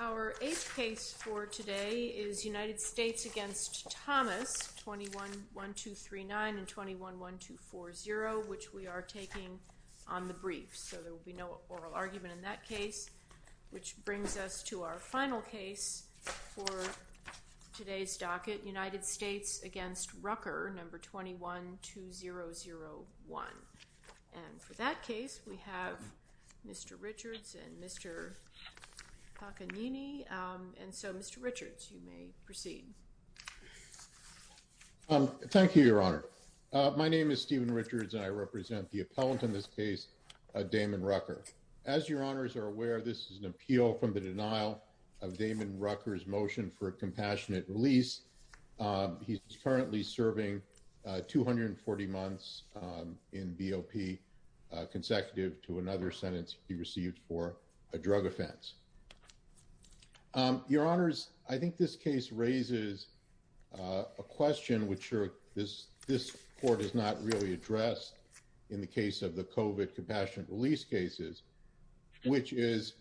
Our eighth case for today is United States v. Thomas, 21-1239 and 21-1240, which we are taking on the briefs, so there will be no oral argument in that case, which brings us to our final case for today's docket, United States v. Rucker, 21-2001, and for that case we have Mr. Richards and Mr. Takanini, and so Mr. Richards, you may proceed. Stephen Richards Thank you, Your Honor. My name is Stephen Richards and I represent the appellant in this case, Damon Rucker. As Your Honors are aware, this is an appeal from the denial of Damon Rucker's motion for a compassionate release. He is currently serving 240 months in BOP consecutive to another sentence he received for a drug offense. Your Honors, I think this case raises a question which this court has not really addressed in the case of the COVID compassionate release cases, which is,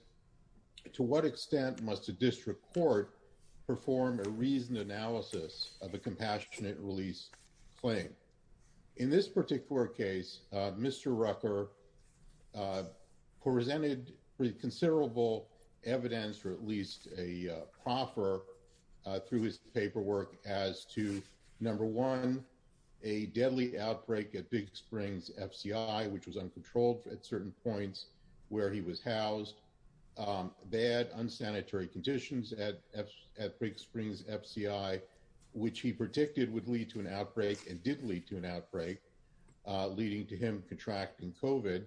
to what extent must a district court perform a reasoned analysis of a compassionate release claim? In this particular case, Mr. Rucker presented considerable evidence or at least a proffer through his paperwork as to, number one, a deadly outbreak at Big Springs FCI, which was uncontrolled at certain points where he was housed, bad, unsanitary conditions at Big Springs FCI, which he predicted would lead to an outbreak and did lead to an outbreak, leading to him contracting COVID,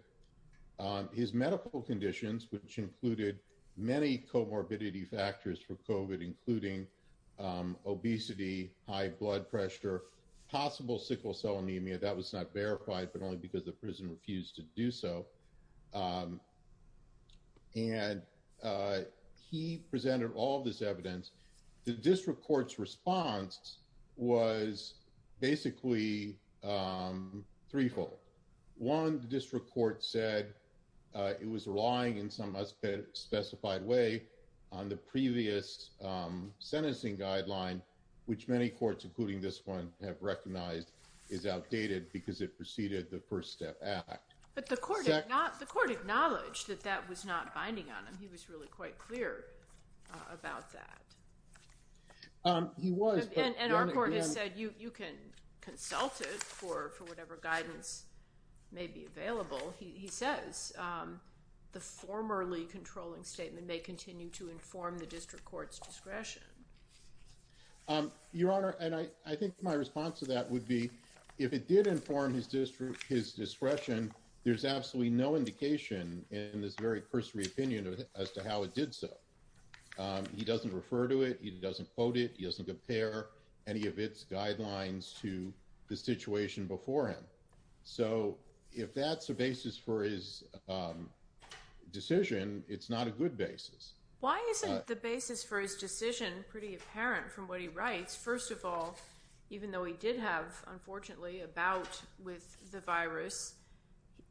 his medical conditions, which included many comorbidity factors for COVID, including obesity, high blood pressure, possible sickle cell anemia. That was not verified, but only because the prison refused to do so. And he presented all this evidence. The district court's response was basically threefold. One, the district court said it was relying in some specified way on the previous sentencing guideline, which many courts, including this one, have recognized is outdated because it preceded the First Step Act. But the court acknowledged that that was not binding on him. He was really quite clear about that. He was, but— And our court has said you can consult it for whatever guidance may be available. He says the formerly controlling statement may continue to inform the district court's discretion. Your Honor, and I think my response to that would be if it did inform his discretion, there's absolutely no indication in this very cursory opinion as to how it did so. He doesn't refer to it. He doesn't quote it. He doesn't compare any of its guidelines to the situation before him. So if that's the basis for his decision, it's not a good basis. Why isn't the basis for his decision pretty apparent from what he writes? First of all, even though he did have, unfortunately, a bout with the virus,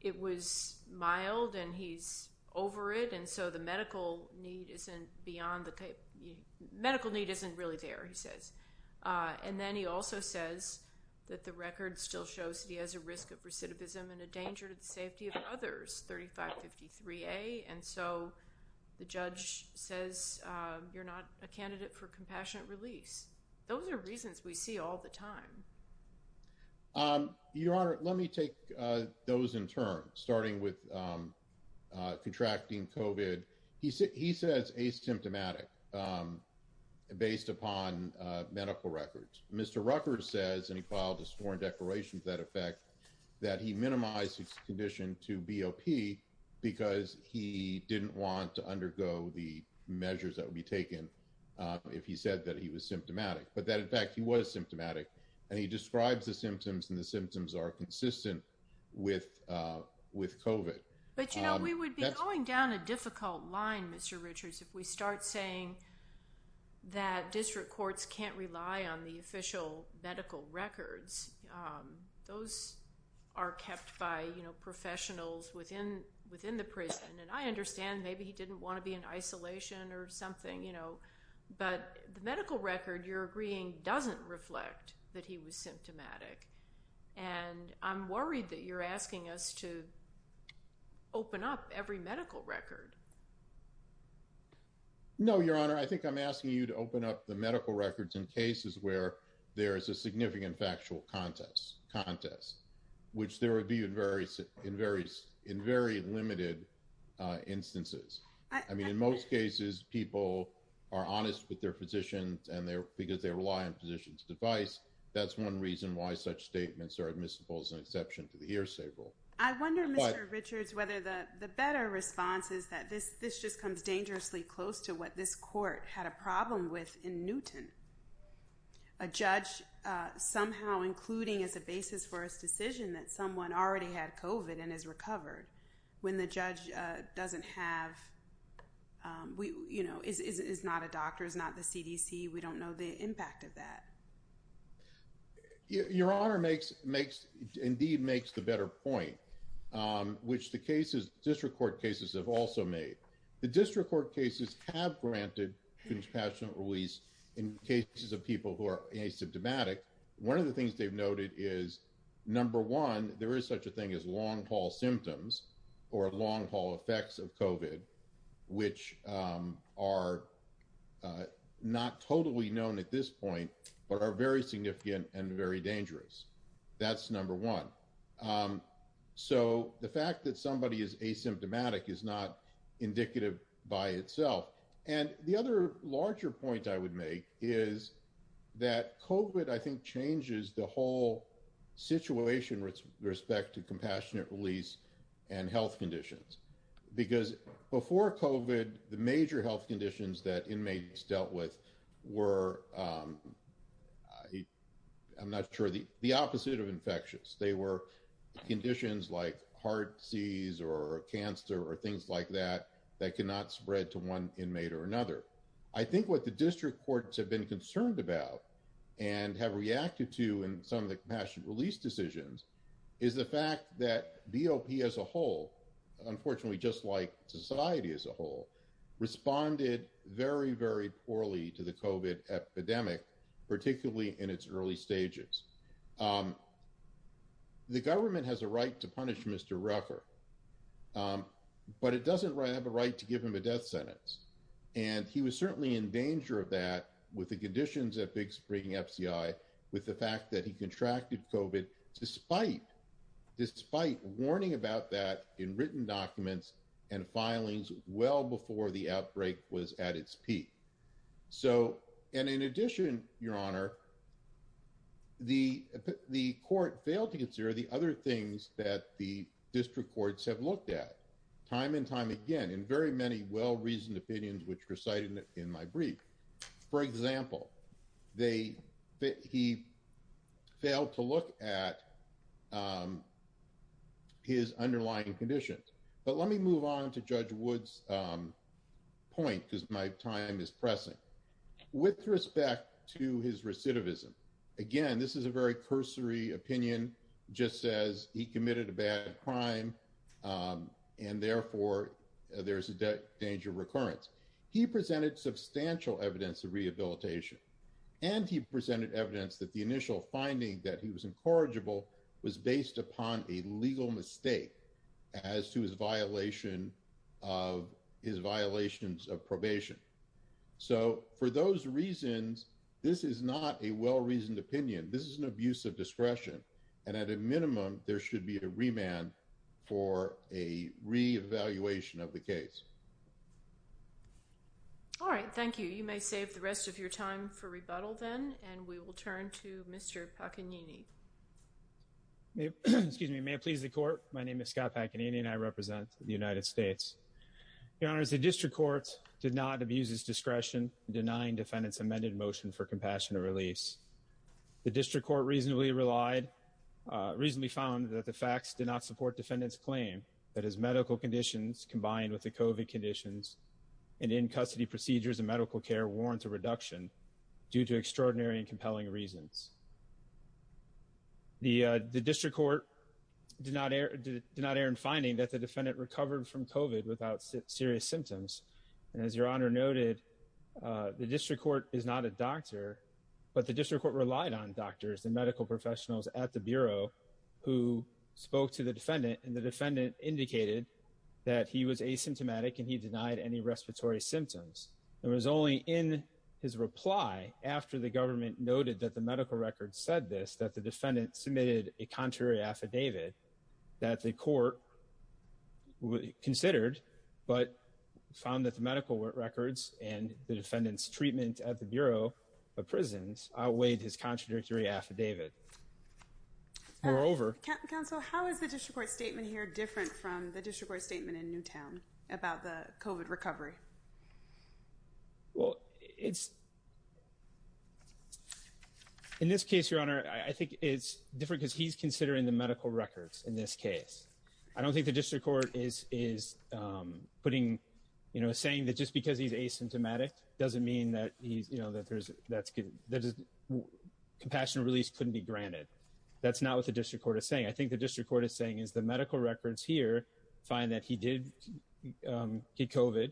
it was mild and he's over it. And so the medical need isn't beyond the—medical need isn't really there, he says. And then he also says that the record still shows that he has a risk of recidivism and a danger to the safety of others, 3553A. And so the judge says you're not a candidate for compassionate release. Those are reasons we see all the time. Your Honor, let me take those in turn, starting with contracting COVID. He says asymptomatic based upon medical records. Mr. Rucker says, and he filed a sworn declaration to that effect, that he minimized his condition to BOP because he didn't want to undergo the measures that would be taken if he said that he was symptomatic. But that, in fact, he was symptomatic, and he describes the symptoms, and the symptoms are consistent with COVID. But, you know, we would be going down a difficult line, Mr. Richards, if we start saying that district courts can't rely on the official medical records. Those are kept by, you know, professionals within the prison, and I understand maybe he didn't want to be in isolation or something, you know, but the medical record, you're agreeing, doesn't reflect that he was symptomatic. And I'm worried that you're asking us to open up every medical record. No, Your Honor, I think I'm asking you to open up the medical records in cases where there is a significant factual contest, which there would be in very limited instances. I mean, in most cases, people are honest with their physicians and they're, because they rely on physicians' advice. That's one reason why such statements are admissible as an exception to the hearsay rule. I wonder, Mr. Richards, whether the better response is that this just comes dangerously close to what this court had a problem with in Newton. A judge somehow including as a basis for his decision that someone already had COVID and is recovered, when the judge doesn't have, you know, is not a doctor, is not the CDC, we don't know the impact of that. Your Honor makes, indeed makes the better point, which the cases, district court cases have also made. The district court cases have granted compassionate release in cases of people who are asymptomatic. One of the things they've noted is, number one, there is such a thing as long haul symptoms or long haul effects of COVID, which are not totally known at this point, but are very significant and very dangerous. That's number one. So the fact that somebody is asymptomatic is not indicative by itself. And the other larger point I would make is that COVID, I think, changes the whole situation with respect to compassionate release and health conditions. Because before COVID, the major health conditions that inmates dealt with were, I'm not sure, the opposite of infectious. They were conditions like heart disease or cancer or things like that, that cannot spread to one inmate or another. I think what the district courts have been concerned about and have reacted to in some of the compassionate release decisions is the fact that BOP as a whole, unfortunately, just like society as a whole, responded very, very poorly to the COVID epidemic, particularly in its early stages. The government has a right to punish Mr. Ruffer, but it doesn't have a right to give him a death sentence. And he was certainly in danger of that with the conditions at Big Spring FCI, with the fact that he contracted COVID, despite warning about that in written documents and filings well before the outbreak was at its peak. So and in addition, Your Honor, the court failed to consider the other things that the which recited in my brief. For example, he failed to look at his underlying conditions. But let me move on to Judge Wood's point, because my time is pressing. With respect to his recidivism, again, this is a very cursory opinion, just says he committed a bad crime. And therefore, there's a danger of recurrence. He presented substantial evidence of rehabilitation. And he presented evidence that the initial finding that he was incorrigible was based upon a legal mistake as to his violation of his violations of probation. So for those reasons, this is not a well reasoned opinion. This is an abuse of discretion. And at a minimum, there should be a remand for a re-evaluation of the case. All right. Thank you. You may save the rest of your time for rebuttal then. And we will turn to Mr. Paganini. Excuse me. May it please the Court. My name is Scott Paganini, and I represent the United States. Your Honor, the District Court did not abuse its discretion in denying defendants amended motion for compassionate release. The District Court reasonably relied, reasonably found that the facts did not support defendant's claim that his medical conditions combined with the COVID conditions and in-custody procedures and medical care warrant a reduction due to extraordinary and compelling reasons. The District Court did not err in finding that the defendant recovered from COVID without serious symptoms. And as Your Honor noted, the District Court is not a doctor, but the District Court relied on doctors and medical professionals at the Bureau who spoke to the defendant, and the defendant indicated that he was asymptomatic and he denied any respiratory symptoms. It was only in his reply, after the government noted that the medical record said this, that the defendant submitted a contrary affidavit that the Court considered, but found that the medical records and the defendant's treatment at the Bureau of Prisons outweighed his contradictory affidavit. Moreover... Counsel, how is the District Court statement here different from the District Court statement in Newtown about the COVID recovery? Well, it's... In this case, Your Honor, I think it's different because he's considering the medical records in this case. I don't think the District Court is putting, you know, saying that just because he's asymptomatic doesn't mean that he's, you know, that there's... Compassionate release couldn't be granted. That's not what the District Court is saying. I think the District Court is saying is the medical records here find that he did get COVID,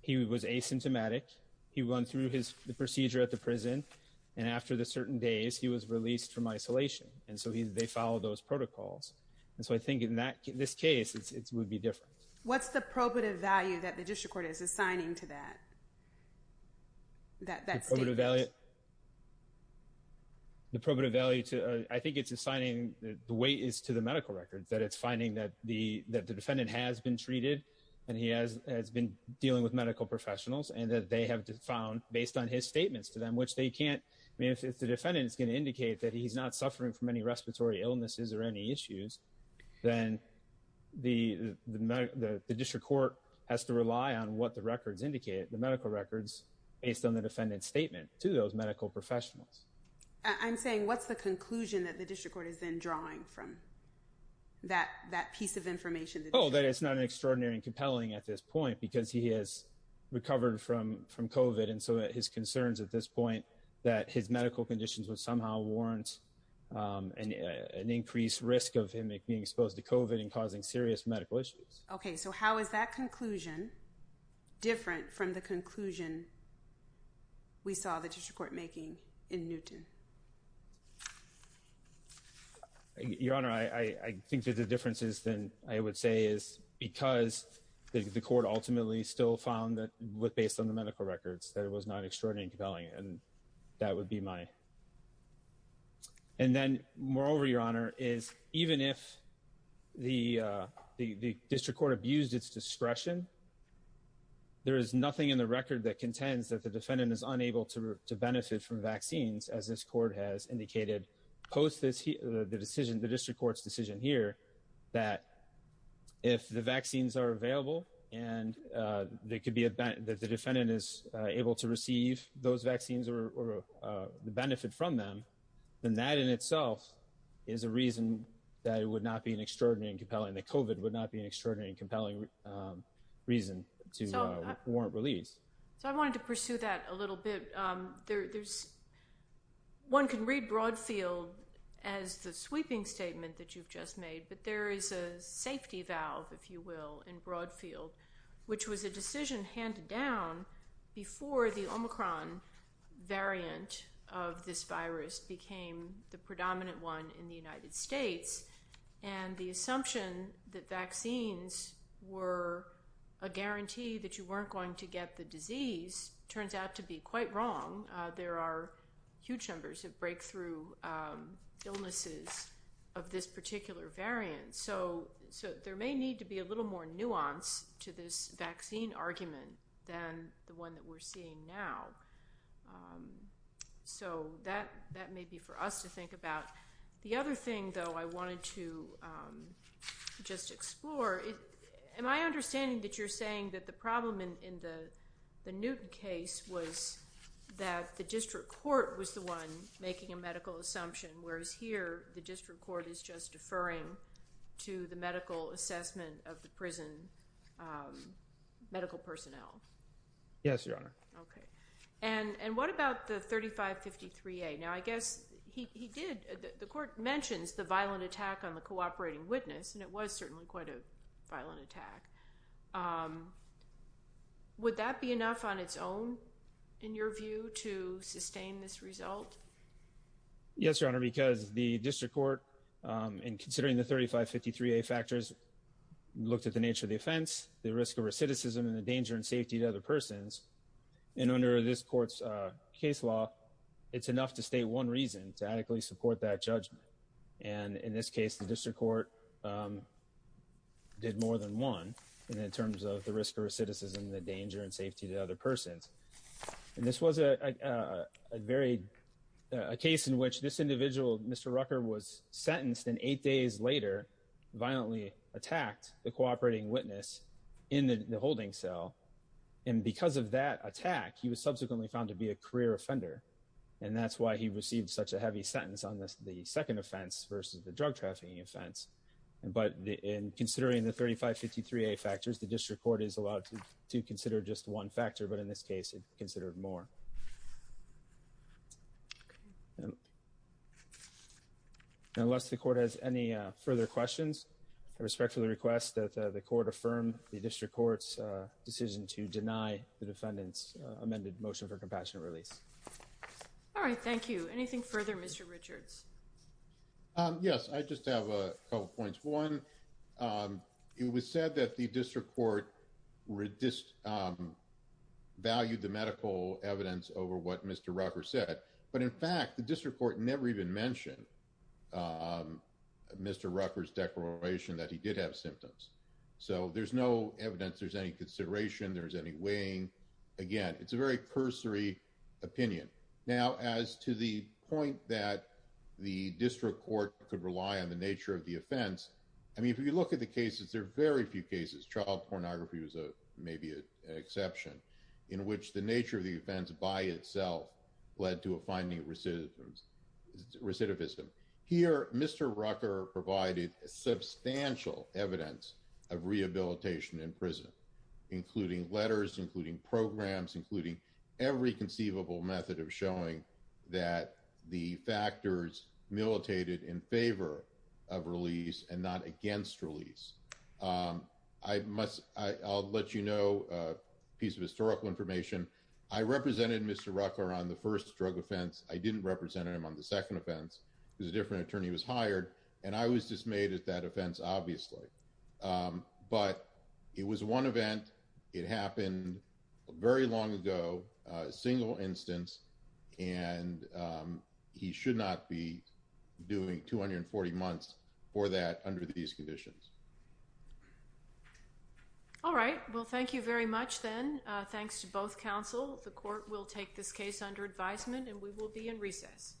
he was asymptomatic, he went through the procedure at the prison, and after the certain days, he was released from isolation. And so they follow those protocols. And so I think in this case, it would be different. What's the probative value that the District Court is assigning to that statement? The probative value... The probative value to... I think it's assigning the weight is to the medical records. That it's finding that the defendant has been treated and he has been dealing with medical professionals and that they have found, based on his statements to them, which they can't... I mean, if the defendant is going to indicate that he's not suffering from any respiratory illnesses or any issues, then the District Court has to rely on what the records indicate, the medical records, based on the defendant's statement to those medical professionals. I'm saying, what's the conclusion that the District Court is then drawing from that piece of information? Oh, that it's not an extraordinary and compelling at this point because he has recovered from COVID. And so his concerns at this point, that his medical conditions would somehow warrant an increased risk of him being exposed to COVID and causing serious medical issues. Okay. So how is that conclusion different from the conclusion we saw the District Court making in Newton? Your Honor, I think that the difference is then, I would say, is because the court ultimately still found that, based on the medical records, that it was not extraordinary and compelling, and that would be my... And then, moreover, Your Honor, is even if the District Court abused its discretion, there is nothing in the record that contends that the defendant is unable to benefit from vaccines as this court has indicated, post the District Court's decision here, that if the vaccines are available and that the defendant is able to receive those vaccines or the benefit from them, then that in itself is a reason that it would not be an extraordinary and compelling, that COVID would not be an extraordinary and compelling reason to warrant release. So I wanted to pursue that a little bit. One can read Broadfield as the sweeping statement that you've just made, but there is a safety valve, if you will, in Broadfield, which was a decision handed down before the Omicron variant of this virus became the predominant one in the United States. And the assumption that vaccines were a guarantee that you weren't going to get the disease turns out to be quite wrong. There are huge numbers of breakthrough illnesses of this particular variant. So there may need to be a little more nuance to this vaccine argument than the one that we're seeing now. So that may be for us to think about. The other thing, though, I wanted to just explore, am I understanding that you're saying that the problem in the Newton case was that the District Court was the one making a medical assumption, whereas here the District Court is just deferring to the medical assessment of the prison medical personnel? Yes, Your Honor. Okay. And what about the 3553A? Now, I guess he did, the Court mentions the violent attack on the cooperating witness, and it was certainly quite a violent attack. Would that be enough on its own, in your view, to sustain this result? Yes, Your Honor, because the District Court, in considering the 3553A factors, looked at the nature of the offense, the risk of recidivism, and the danger and safety to other persons. And under this Court's case law, it's enough to state one reason to adequately support that judgment. And in this case, the District Court did more than one in terms of the risk of recidivism, the danger and safety to other persons. And this was a case in which this individual, Mr. Rucker, was sentenced, and eight days later, violently attacked the cooperating witness in the holding cell. And because of that attack, he was subsequently found to be a career offender, and that's why he received such a heavy sentence on the second offense versus the drug trafficking offense. But in considering the 3553A factors, the District Court is allowed to consider just one factor, but in this case, it considered more. Okay. Unless the Court has any further questions, I respectfully request that the Court affirm the District Court's decision to deny the defendant's amended motion for compassionate release. All right, thank you. Anything further, Mr. Richards? Yes, I just have a couple points. One, it was said that the District Court valued the medical evidence over what Mr. Rucker said. But in fact, the District Court never even mentioned Mr. Rucker's declaration that he did have symptoms. So there's no evidence there's any consideration, there's any weighing. Again, it's a very cursory opinion. Now, as to the point that the District Court could rely on the nature of the offense, I mean, if you look at the cases, there are very few cases, child pornography was maybe an exception, in which the nature of the offense by itself led to a finding of recidivism. Here, Mr. Rucker provided substantial evidence of rehabilitation in prison, including letters, including programs, including every conceivable method of showing that the factors militated in favor of release and not against release. I'll let you know a piece of historical information. I represented Mr. Rucker on the first drug offense. I didn't represent him on the second offense, because a different attorney was hired, and I was dismayed at that offense, obviously. But it was one event, it happened very long ago, a single instance, and he should not be doing 240 months for that under these conditions. All right, well, thank you very much, then. Thanks to both counsel. The Court will take this case under advisement, and we will be in recess.